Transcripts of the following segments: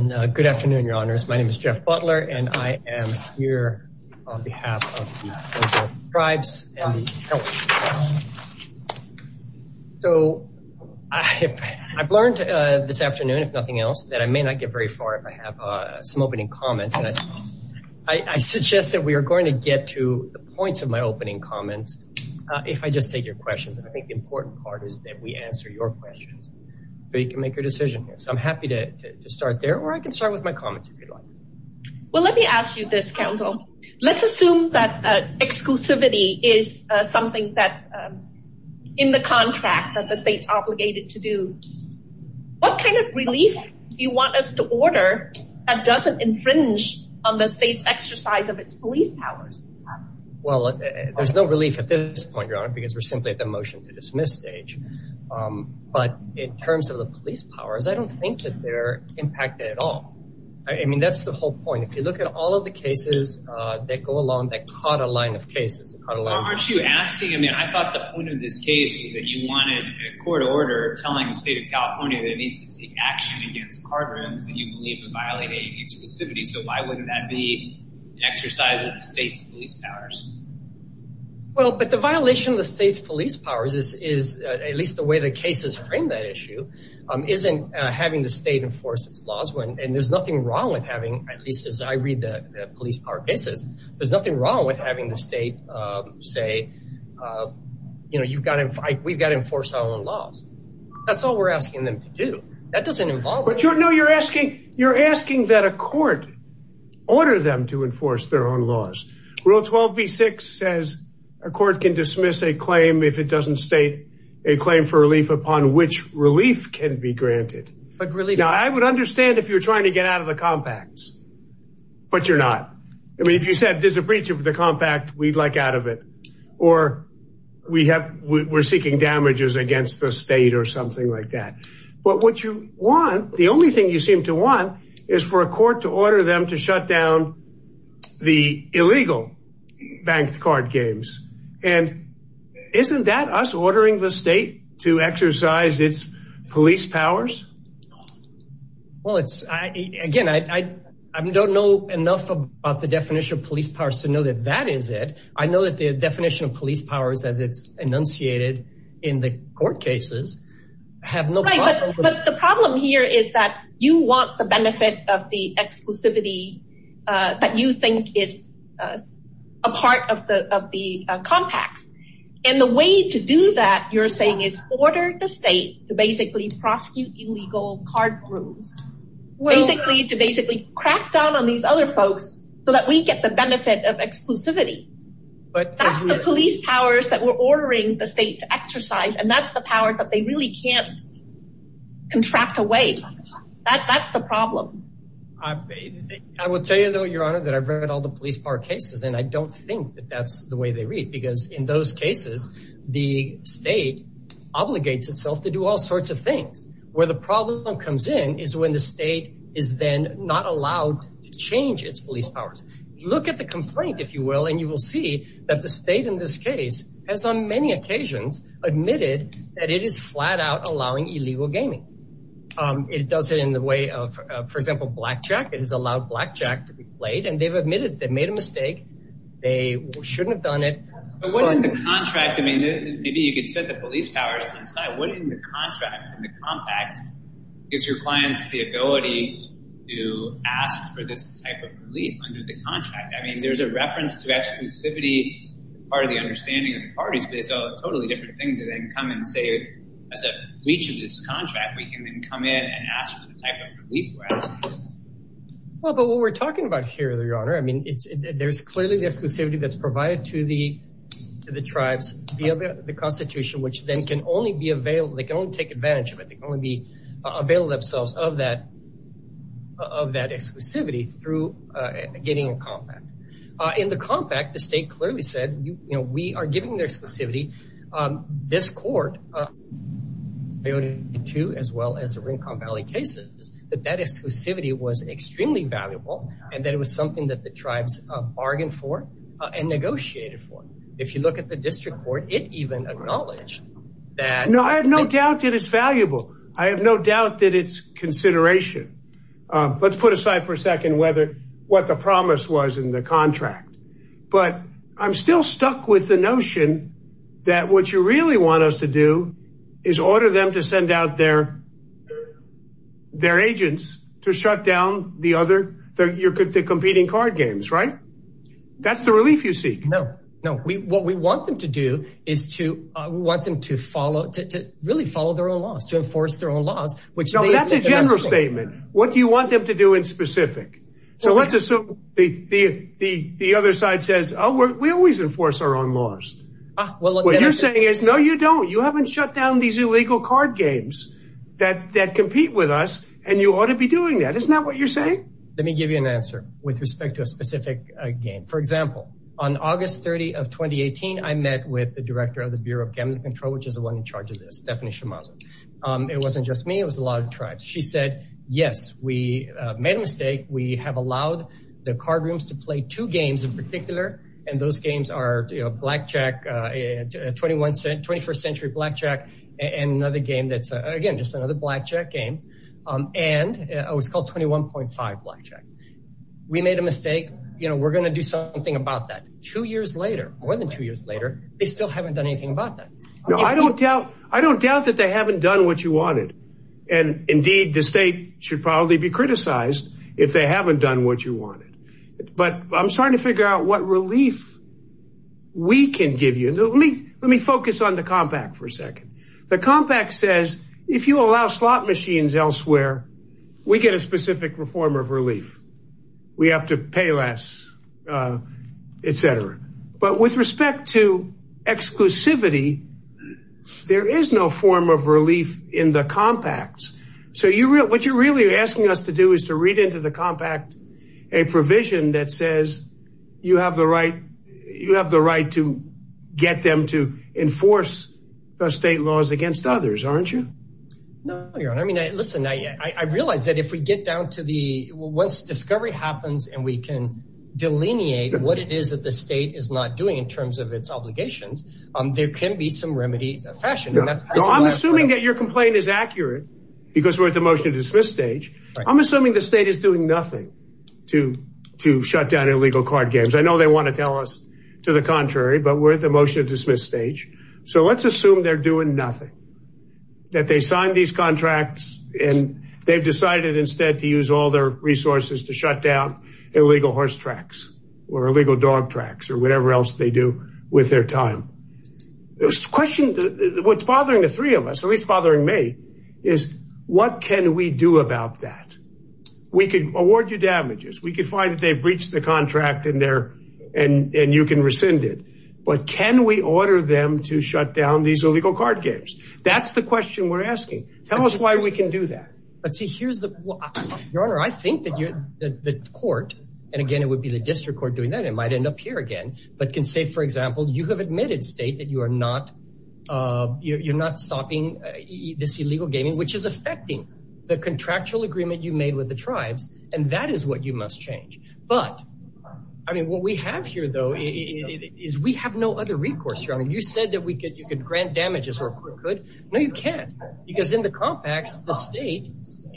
Good afternoon, Your Honors. My name is Jeff Butler, and I am here on behalf of the Ojibwa Tribes and the Health Department. I've learned this afternoon, if nothing else, that I may not get very far if I have some opening comments. I suggest that we are going to get to the points of my opening comments if I just take your questions. I think the important part is that we answer your questions, so you can make your decision here. So I'm happy to start there, or I can start with my comments if you'd like. Well, let me ask you this, Counsel. Let's assume that exclusivity is something that's in the contract that the state's obligated to do. What kind of relief do you want us to order that doesn't infringe on the state's exercise of its police powers? Well, there's no relief at this point, Your Honor, because we're simply at the but in terms of the police powers, I don't think that they're impacted at all. I mean, that's the whole point. If you look at all of the cases that go along that caught a line of cases. Aren't you asking? I mean, I thought the point of this case was that you wanted a court order telling the state of California that it needs to take action against card rooms that you believe are violating exclusivity. So why wouldn't that be an exercise of the state's police powers? Well, but the violation of the state's police powers is at least the way the cases frame that issue isn't having the state enforce its laws. And there's nothing wrong with having, at least as I read the police power cases, there's nothing wrong with having the state say, you know, you've got to fight. We've got to enforce our own laws. That's all we're asking them to do. That doesn't involve. But you know, you're asking you're asking that a court order them to enforce their own laws. Rule 12B6 says a court can dismiss a claim if it doesn't state a claim for relief upon which relief can be granted. But really, I would understand if you're trying to get out of the compacts. But you're not. I mean, if you said there's a breach of the compact, we'd like out of it or we have we're seeking damages against the state or something like that. But what you want, the only thing you seem to want is for a court to order them to shut down the illegal banked card games. And isn't that us ordering the state to exercise its police powers? Well, it's again, I don't know enough about the definition of police powers to know that that is it. I know that the definition of police powers, as it's enunciated in the court cases, have no problem. But the problem here is that you want the benefit of the exclusivity that you think is a part of the of the compacts. And the way to do that, you're saying is order the state to basically prosecute illegal card rooms, basically to basically crack down on these other folks so that we get the benefit of exclusivity. But that's the police powers that we're ordering the state to exercise. And that's the power that really can't contract away. That's the problem. I will tell you, though, Your Honor, that I've read all the police bar cases, and I don't think that that's the way they read, because in those cases, the state obligates itself to do all sorts of things where the problem comes in is when the state is then not allowed to change its police powers. Look at the complaint, if you will, you will see that the state in this case has on many occasions admitted that it is flat out allowing illegal gaming. It does it in the way of, for example, blackjack. It has allowed blackjack to be played, and they've admitted they made a mistake. They shouldn't have done it. What in the contract? I mean, maybe you could set the police powers inside. What in the contract and the compact gives your clients the ability to ask for this type of relief under the contract? I mean, there's a reference to exclusivity as part of the understanding of the parties, but it's a totally different thing to then come and say, as a breach of this contract, we can then come in and ask for the type of relief we're asking for. Well, but what we're talking about here, Your Honor, I mean, there's clearly the exclusivity that's provided to the tribes via the Constitution, which then can only be available. They can only advantage of it. They can only avail themselves of that exclusivity through getting a compact. In the compact, the state clearly said, you know, we are giving their exclusivity. This court, as well as the Rincon Valley cases, that that exclusivity was extremely valuable, and that it was something that the tribes bargained for and negotiated for. If you at the district court, it even acknowledged that. No, I have no doubt that it's valuable. I have no doubt that it's consideration. Let's put aside for a second what the promise was in the contract, but I'm still stuck with the notion that what you really want us to do is order them to send out their agents to shut down the other, the competing card games, right? That's the relief you seek. No, no. What we want them to do is to, we want them to follow, to really follow their own laws, to enforce their own laws. No, that's a general statement. What do you want them to do in specific? So let's assume the other side says, oh, we always enforce our own laws. What you're saying is, no, you don't. You haven't shut down these illegal card games that compete with us, and you ought to be doing that. Isn't that what you're saying? Let me give you an answer with respect to a specific game. For example, on August 30 of 2018, I met with the director of the Bureau of Gambling Control, which is the one in charge of this, Stephanie Shimazo. It wasn't just me. It was a lot of tribes. She said, yes, we made a mistake. We have allowed the card rooms to play two games in particular, and those games are Blackjack, 21st century Blackjack, and another game that's, again, just another Blackjack game. And it was called 21.5 Blackjack. We made a mistake. We're going to do something about that. Two years later, more than two years later, they still haven't done anything about that. No, I don't doubt that they haven't done what you wanted. And indeed, the state should probably be criticized if they haven't done what you wanted. But I'm starting to figure out what relief we can give you. Let me focus on the compact for a second. The compact says, if you allow slot machines elsewhere, we get a specific form of relief. We have to pay less, etc. But with respect to exclusivity, there is no form of relief in the compacts. So what you're really asking us to do is to read into the compact a provision that you have the right to get them to enforce the state laws against others, aren't you? No, Your Honor. I realize that once discovery happens and we can delineate what it is that the state is not doing in terms of its obligations, there can be some remedy fashioned. I'm assuming that your complaint is accurate because we're at the motion to dismiss stage. I'm assuming the state is doing nothing to shut down illegal card games. I know they want to tell us to the contrary, but we're at the motion to dismiss stage. So let's assume they're doing nothing. That they signed these contracts and they've decided instead to use all their resources to shut down illegal horse tracks or illegal dog tracks or whatever else they do with their time. There's a question. What's bothering the three of us, at least bothering me, is what can we do about that? We could award you damages. We could find that they've breached the contract and you can rescind it. But can we order them to shut down these illegal card games? That's the question we're asking. Tell us why we can do that. Your Honor, I think that the court, and again, it would be the district court doing that, might end up here again, but can say, for example, you have admitted state that you are not stopping this illegal gaming, which is affecting the contractual agreement you made with the tribes. And that is what you must change. But I mean, what we have here, though, is we have no other recourse, Your Honor. You said that you could grant damages. No, you can't. Because in the compacts, the state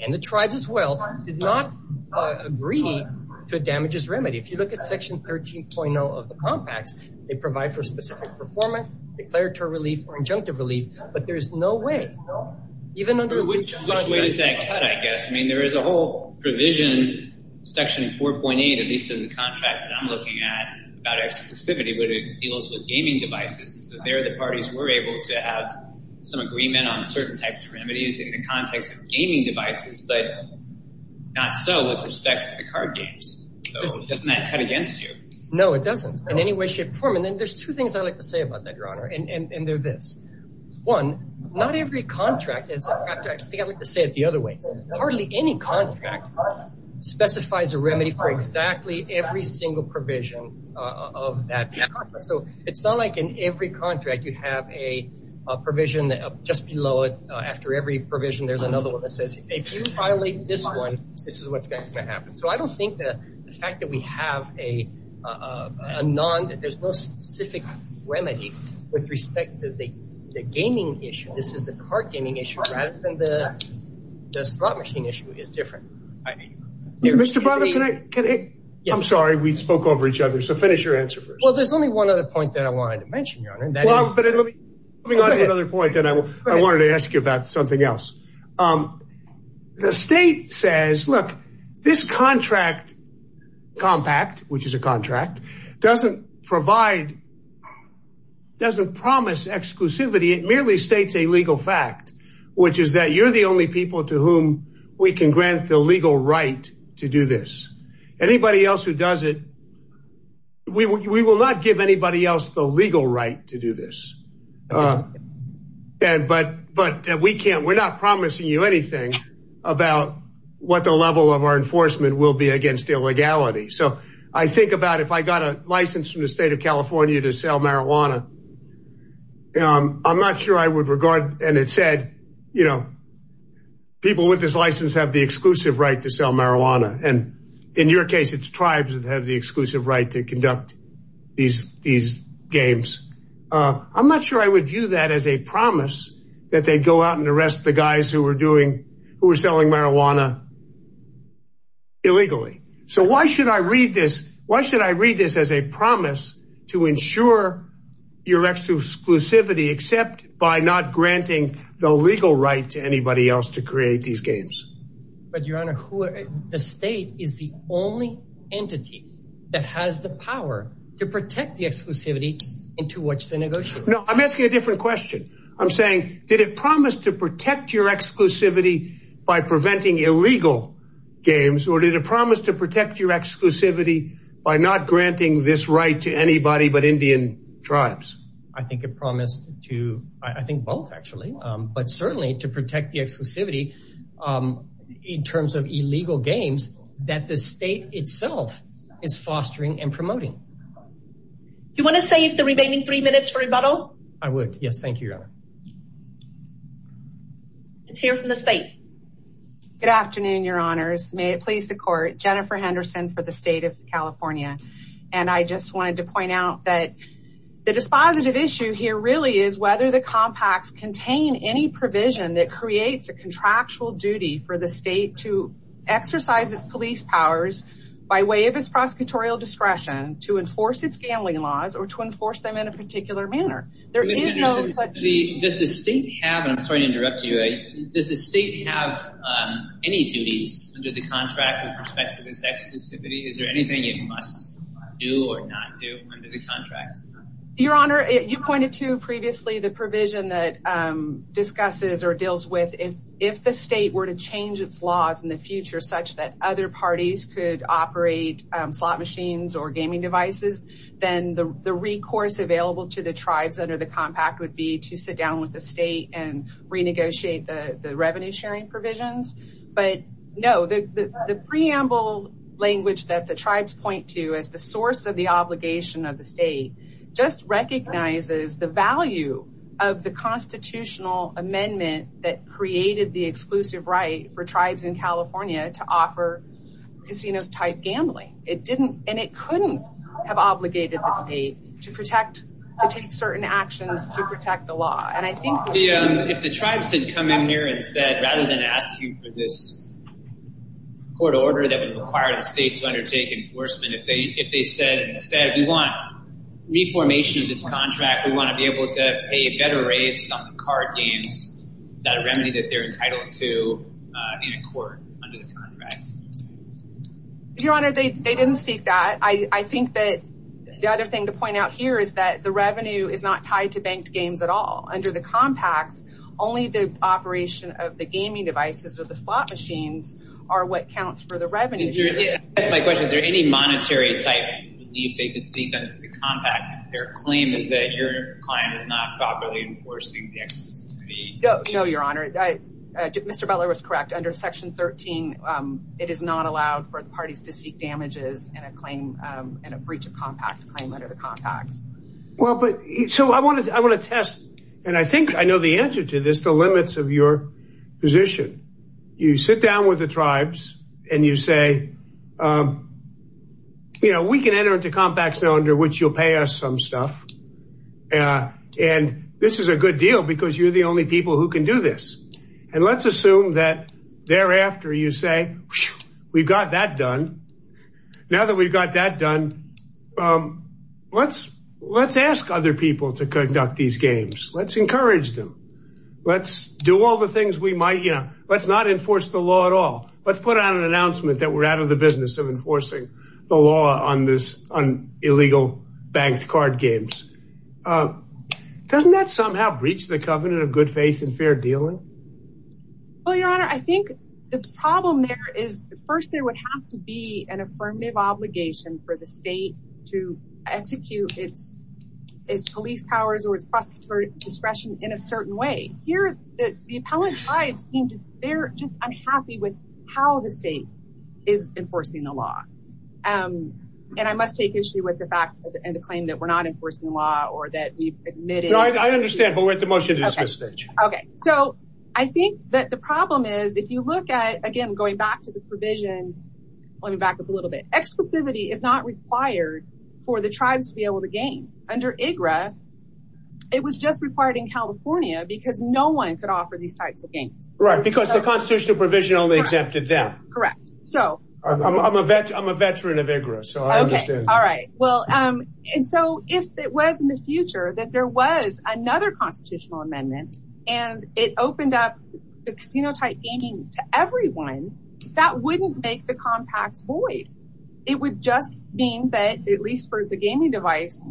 and the tribes as well did not agree to a damages remedy. If you look at section 13.0 of the compacts, they provide for specific performance, declaratory relief, or injunctive relief, but there's no way. Which way does that cut, I guess? I mean, there is a whole provision, section 4.8, at least in the contract that I'm looking at, about exclusivity, but it deals with gaming devices. So there the parties were able to have some agreement on certain types of remedies in the context of gaming devices, but not so with respect to the card games. So doesn't that cut against you? No, it doesn't in any way, shape, or form. And then there's two things I like to say about that, Your Honor, and they're this. One, not every contract is, I think I like to say it the other way. Hardly any contract specifies a remedy for exactly every single provision of that contract. So it's not like in every contract, you have a provision just below it. After every provision, there's another one that says, if you violate this one, this is what's going to happen. So I don't think that the fact that we have a non, there's no specific remedy with respect to the gaming issue. This is the card gaming issue, rather than the slot machine issue is different. Mr. Bonner, can I, I'm sorry, we spoke over each other. So finish your answer first. Well, there's only one other point that I wanted to mention, Your Honor. Let me go to another point that I wanted to ask you about something else. The state says, look, this contract compact, which is a contract doesn't provide doesn't promise exclusivity, it merely states a legal fact, which is that you're the only people to whom we can grant the legal right to do this. Anybody else who does it, we will not give anybody else the legal right to do this. And but but we can't, we're not promising you anything about what the level of our enforcement will be against illegality. So I think about if I got a license from the state of California to sell marijuana, I'm not sure I would regard and it said, you know, people with this license have the exclusive right to sell marijuana. And in your case, it's tribes that have the exclusive right to conduct these these games. I'm not sure I would view that as a promise that they go out and arrest the guys who were doing who were selling marijuana illegally. So why should I read this? Why should I read this as a promise to ensure your exclusivity except by not granting the legal right to anybody else to create these games? But Your Honor, who the state is the only entity that has the power to protect the exclusivity into which they negotiate? No, I'm asking a different question. I'm saying did it promise to protect your exclusivity by preventing illegal games? Or did it promise to protect your exclusivity by not granting this right to anybody but Indian tribes? I think it promised to I think both actually, but certainly to protect the exclusivity in terms of illegal games that the state itself is fostering and promoting. You want to save the remaining three minutes for rebuttal? I would. Yes. Thank you, Your Honor. Let's hear from the state. Good afternoon, Your Honors. May it please the court. Jennifer Henderson for the state of California. And I just wanted to point out that the dispositive issue here really is whether the compacts contain any provision that creates a contractual duty for the state to exercise its police powers by way of its prosecutorial discretion to enforce its gambling laws or to enforce them in a particular manner. Does the state have, and I'm sorry to interrupt you, does the state have any duties under the contract with respect to this exclusivity? Is there anything it must do or not do under the contract? Your Honor, you pointed to previously the provision that discusses or deals with if the state were to change its laws in the future such that other parties could operate slot machines or gaming devices, then the recourse available to the tribes under the compact would be to sit down with the state and renegotiate the revenue sharing provisions. But no, the preamble language that the tribes point to as the source of the obligation of the state just recognizes the value of the constitutional amendment that created the exclusive right for tribes in California to offer casinos-type gambling. It didn't and it couldn't have obligated the state to protect, to take certain actions to protect the law. And I think if the tribes had come in here and said rather than ask you for this court order that would require the state to undertake enforcement, if they said instead we want reformation of this contract, we want to be able to pay better rates on card games that remedy that they're entitled to in a court under the contract. Your Honor, they didn't speak that. I think that the other thing to point out here is that the revenue is not tied to banked games at all. Under the compacts, only the operation of the gaming devices or the slot machines are what counts for the revenue. Is there any monetary type you believe they could seek under the compact if their claim is that your client is not properly enforcing the exclusive fee? No, Your Honor. Mr. Butler was correct. Under section 13, it is not allowed for the parties to seek damages and a breach of compact claim under the compacts. Well, but so I want to I want to test and I think I know the answer to this, the limits of your position. You sit down with the tribes and you say, you know, we can enter into compacts now under which you'll pay us some stuff. And this is a good deal because you're the only people who can do this. And let's assume that thereafter you say we've got that done. Now that we've got that done, let's let's ask other people to conduct these games. Let's encourage them. Let's do all the things we might. You know, let's not enforce the law at all. Let's put out an announcement that we're out of the business of enforcing the law on this on illegal banked card games. Doesn't that somehow breach the covenant of good faith and fair dealing? Well, Your Honor, I think the problem there is first, there would have to be an affirmative obligation for the state to execute its its police powers or its discretion in a certain way here that the appellate tribes seem to they're just unhappy with how the state is enforcing the law. And I must take issue with the fact and the claim that we're not enforcing the law or that we've admitted. I understand, but we're at the motion to dismiss. Okay, so I think that the problem is if you look at again, going back to the provision, let me back up a little bit. Explicitly is not required for the tribes to be able to gain under IGRA. It was just required in California because no one could offer these types of games, right? Because the constitutional provision only exempted them. Correct. So I'm a vet. I'm a veteran of IGRA. So I understand. All right. Well, and so if it was in the future that there was another constitutional amendment and it opened up the casino-type gaming to everyone, that wouldn't make the compacts void. It would just mean that at least for the gaming device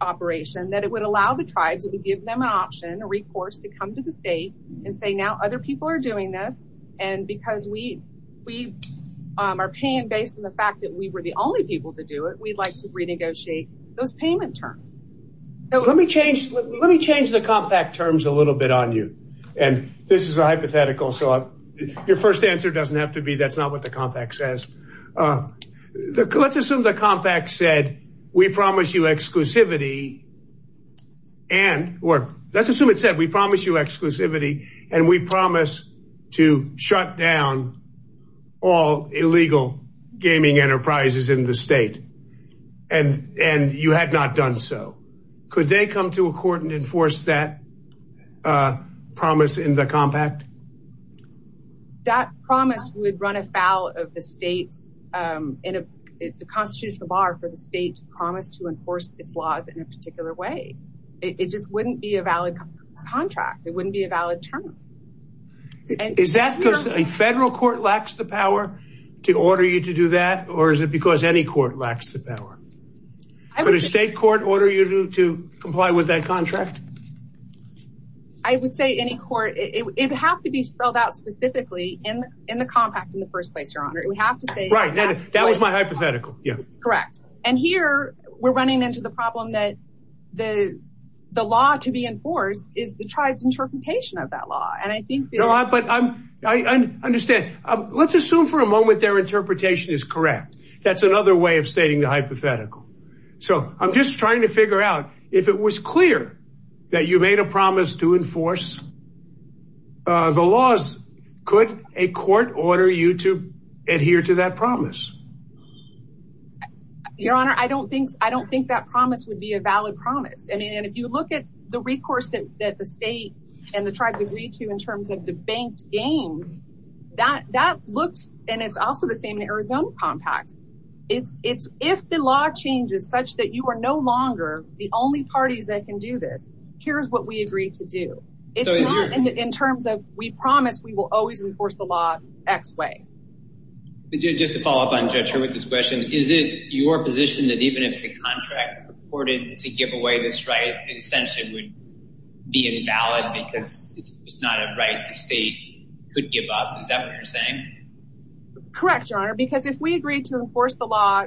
operation, that it would allow the tribes to give them an option, a recourse to come to the state and say, now other people are doing this. And because we, we are paying based on the fact that we were the only people to do it, we'd like to renegotiate those payment terms. Let me change, let me change the compact terms a little bit on you. And this is a hypothetical. So your first answer doesn't have to be, that's not what the compact says. Let's assume the compact said, we promise you exclusivity and, or let's assume it said, we promise you exclusivity and we promise to shut down all illegal gaming enterprises in the state. And you had not done so. Could they come to a court and enforce that promise in the compact? That promise would run afoul of the state's, the constitutional bar for the state to promise to be a valid term. Is that because a federal court lacks the power to order you to do that? Or is it because any court lacks the power? Could a state court order you to comply with that contract? I would say any court, it has to be spelled out specifically in the compact in the first place, your honor. We have to say, that was my hypothetical. Yeah, correct. And here we're is the tribe's interpretation of that law. And I think, but I understand, let's assume for a moment their interpretation is correct. That's another way of stating the hypothetical. So I'm just trying to figure out if it was clear that you made a promise to enforce the laws, could a court order you to adhere to that promise? Your honor, I don't think, I don't think that promise would be a valid promise. I mean, and if you look at the recourse that the state and the tribes agree to in terms of the banked gains, that looks, and it's also the same in Arizona compacts, it's if the law changes such that you are no longer the only parties that can do this, here's what we agree to do. It's not in terms of we promise we will always enforce the law X way. Just to follow up on Judge reported to give away this right, in a sense it would be invalid because it's not a right the state could give up. Is that what you're saying? Correct, your honor, because if we agree to enforce the law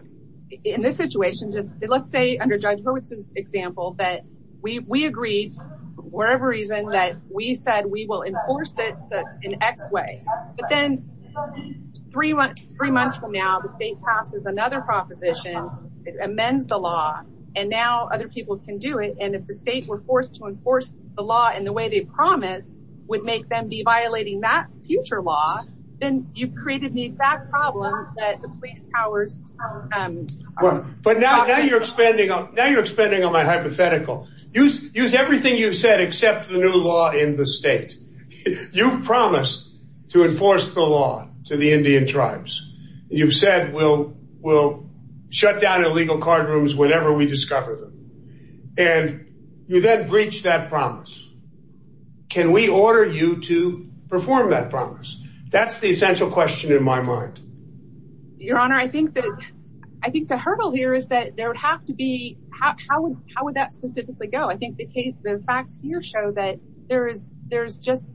in this situation, just let's say under Judge Hurwitz's example, that we agreed for whatever reason that we said we will enforce it in X way. But then three months from now, the state passes another proposition, it amends the law, and now other people can do it. And if the state were forced to enforce the law in the way they promised would make them be violating that future law, then you've created the exact problem that the police powers. But now you're expanding, now you're expanding on my hypothetical. Use everything you've said except the new law in the will shut down illegal card rooms whenever we discover them. And you then breach that promise. Can we order you to perform that promise? That's the essential question in my mind. Your honor, I think that I think the hurdle here is that there would have to be how would that specifically go? I think the case the facts here show that there is there's just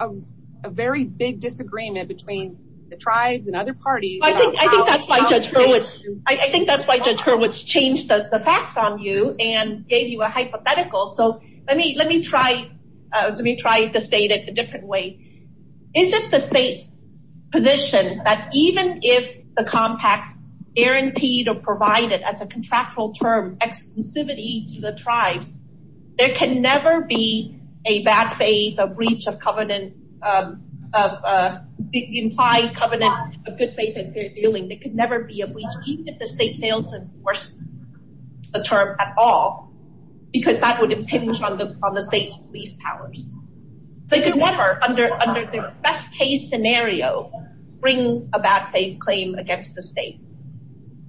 a very big disagreement between the tribes and other parties. I think I think that's why Judge Hurwitz, I think that's why Judge Hurwitz changed the facts on you and gave you a hypothetical. So let me let me try. Let me try to state it a different way. Is it the state's position that even if the compacts guaranteed or provided as a contractual term exclusivity to the tribes, there can never be a bad faith, a breach of covenant, implied covenant of good faith and good feeling. There could never be a breach, even if the state fails to enforce the term at all, because that would impinge on the on the state's police powers. They could never under under the best case scenario, bring a bad faith claim against the state.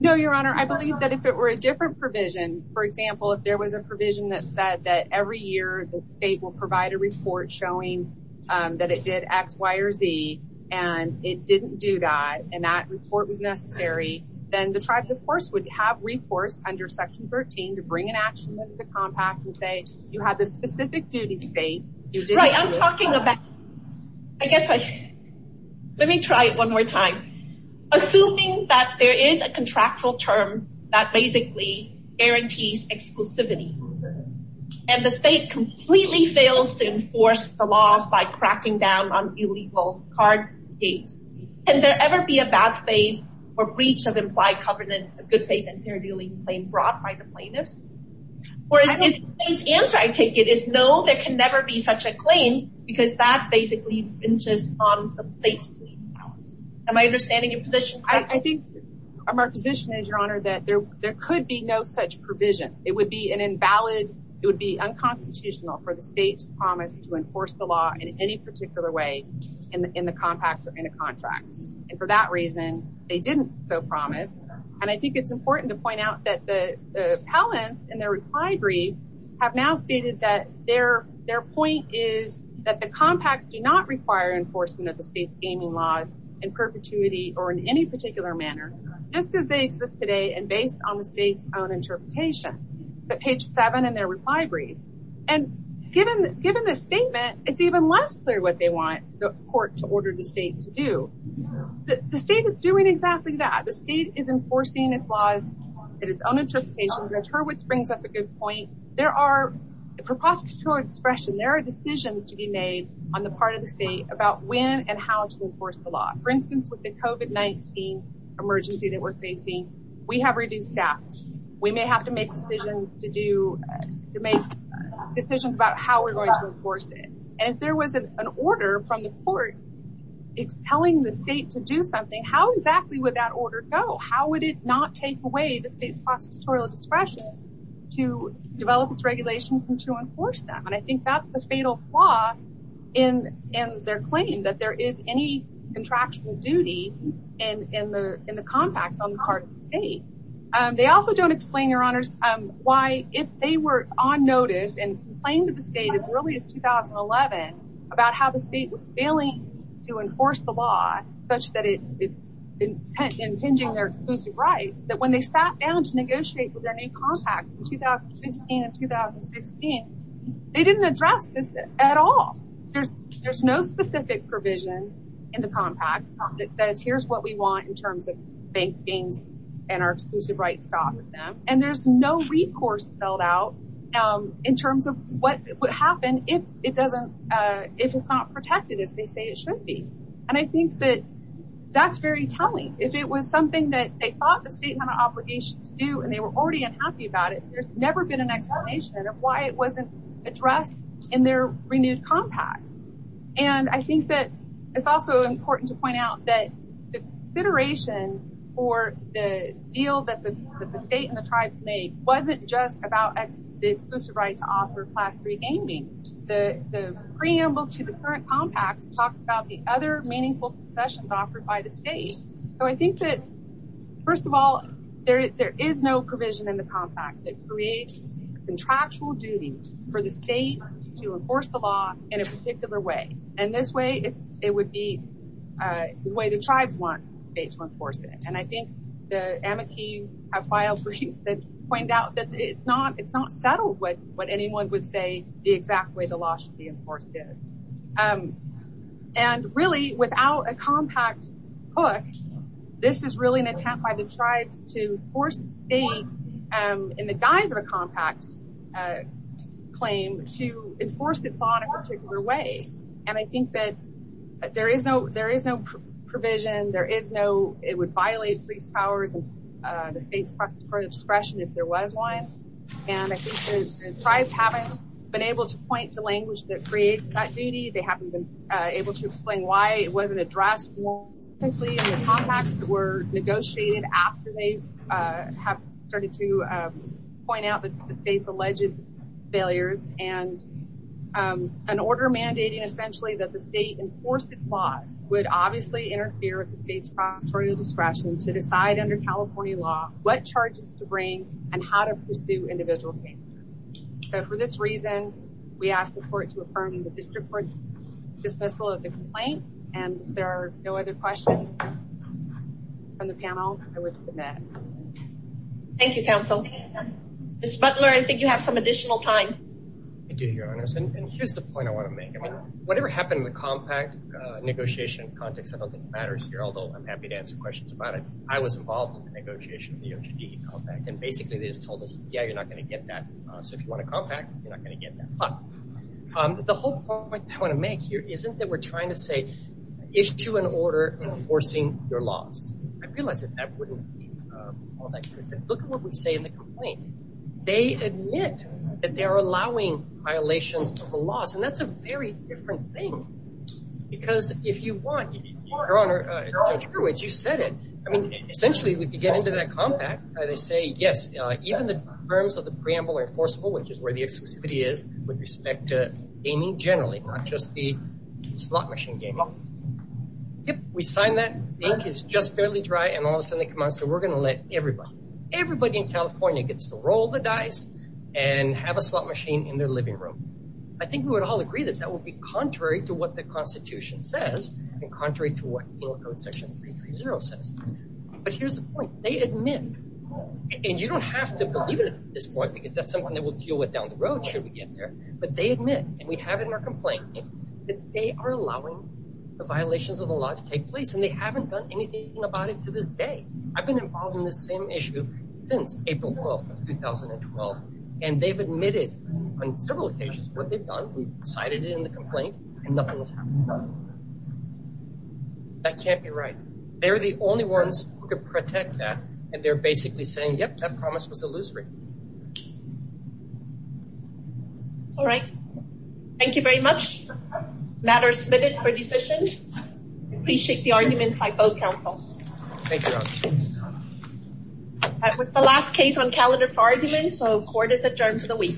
No, your honor, I believe that if it were a different provision, for example, if there was a provision that said that every year the state will provide a report showing that it did X, Y or Z, and it didn't do that, and that report was necessary, then the tribes, of course, would have recourse under Section 13 to bring an action under the compact and say you have the specific duty state. Right, I'm talking about, I guess, let me try it one more time. Assuming that there is a contractual term that basically guarantees exclusivity, and the state completely fails to enforce the laws by cracking down on illegal card states, can there ever be a bad faith or breach of implied covenant of good faith and fair dealing claim brought by the plaintiffs? Whereas the state's answer, I take it, is no, there can never be such a claim because that basically hinges on the state's powers. Am I understanding your position? I think our position is, your honor, that there could be no such provision. It would be an invalid, it would be unconstitutional for the state to promise to enforce the law in any particular way in the compacts or in a contract. And for that reason, they didn't so promise. And I think it's important to point out that the appellants and their reply brief have now stated that their point is that the compacts do not require enforcement of the state's gaming laws in perpetuity or in any particular manner, just as they exist today and based on the state's own interpretation. The page seven in their reply brief. And given the statement, it's even less clear what they want the court to order the state to do. The state is doing exactly that. The state is enforcing its laws at its own interpretation, which Hurwitz brings up a good point. There are, for prosecutorial discretion, there are decisions to be made on the part of the state about when and how to enforce the law. For instance, with the COVID-19 emergency that we're facing, we have reduced staff. We may have to make decisions to do, to make decisions about how we're going to enforce it. And if there was an order from the court, it's telling the state to do something. How exactly would that order go? How would it not take away the state's prosecutorial discretion to develop its regulations and to enforce them? And I think that's the fatal flaw in, in their claim that there is any contractual duty and in the, in the compacts on the part of the state. They also don't explain your honors why if they were on notice and complained to the state as early as 2011 about how the state was failing to enforce the law such that it is impinging their exclusive rights, that when they sat down to negotiate with their new compacts in 2015 and 2016, they didn't address this at all. There's, there's no specific provision in the compact that says, here's what we want in terms of bank gains and our exclusive rights stop with them. And there's no recourse spelled out in terms of what would happen if it wasn't protected as they say it should be. And I think that that's very telling. If it was something that they thought the state had an obligation to do and they were already unhappy about it, there's never been an explanation of why it wasn't addressed in their renewed compacts. And I think that it's also important to point out that the consideration for the deal that the, that the state and the tribes made wasn't just about the exclusive right to offer class three compacts talked about the other meaningful sessions offered by the state. So I think that first of all, there, there is no provision in the compact that creates contractual duties for the state to enforce the law in a particular way. And this way it would be a way the tribes want the state to enforce it. And I think the amici have filed briefs that point out that it's not, it's not settled with what anyone would say the exact way the law should be enforced is. And really without a compact hook, this is really an attempt by the tribes to force the state in the guise of a compact claim to enforce the law in a particular way. And I think that there is no, there is no provision. There is no, it would violate police powers and the state's discretion if there was one. And I think the tribes haven't been able to language that creates that duty. They haven't been able to explain why it wasn't addressed more simply in the compacts that were negotiated after they have started to point out that the state's alleged failures and an order mandating essentially that the state enforced its laws would obviously interfere with the state's proctorial discretion to decide under California law what charges to bring and how to pursue individual cases. So for this reason, we ask the court to affirm the district court's dismissal of the complaint. And if there are no other questions from the panel, I would submit. Thank you, counsel. Ms. Butler, I think you have some additional time. Thank you, your honors. And here's the point I want to make. I mean, whatever happened in the compact negotiation context, I don't think matters here, although I'm happy to I was involved in the negotiation of the OJD compact. And basically, they just told us, yeah, you're not going to get that. So if you want to compact, you're not going to get that. But the whole point I want to make here isn't that we're trying to say issue an order enforcing your laws. I realize that that wouldn't be all that good. Look at what we say in the complaint. They admit that they are allowing violations of the laws. And that's a very different thing. Because if you want, your honor, you said it. I mean, essentially, if you get into that compact, they say, yes, even the terms of the preamble are enforceable, which is where the exclusivity is with respect to gaming generally, not just the slot machine gaming. Yep, we sign that. The ink is just barely dry. And all of a sudden, they come out and say, we're going to let everybody, everybody in California gets to roll the dice and have a slot machine in their living room. I think we would all agree that that would be contrary to what the constitution says, and contrary to what penal code section 330 says. But here's the point. They admit, and you don't have to believe it at this point, because that's something that we'll deal with down the road should we get there. But they admit, and we have it in our complaint, that they are allowing the violations of the law to take place. And they haven't done anything about it to this day. I've been involved in this same issue since April 12, 2012. And they've admitted on several occasions what they've done. We've cited it in the complaint, and nothing has happened. That can't be right. They're the only ones who could protect that. And they're basically saying, yep, that promise was illusory. All right. Thank you very much. Matter submitted for decision. Appreciate the arguments by both councils. Thank you. That was the last case on calendar for argument. So court is adjourned for the week.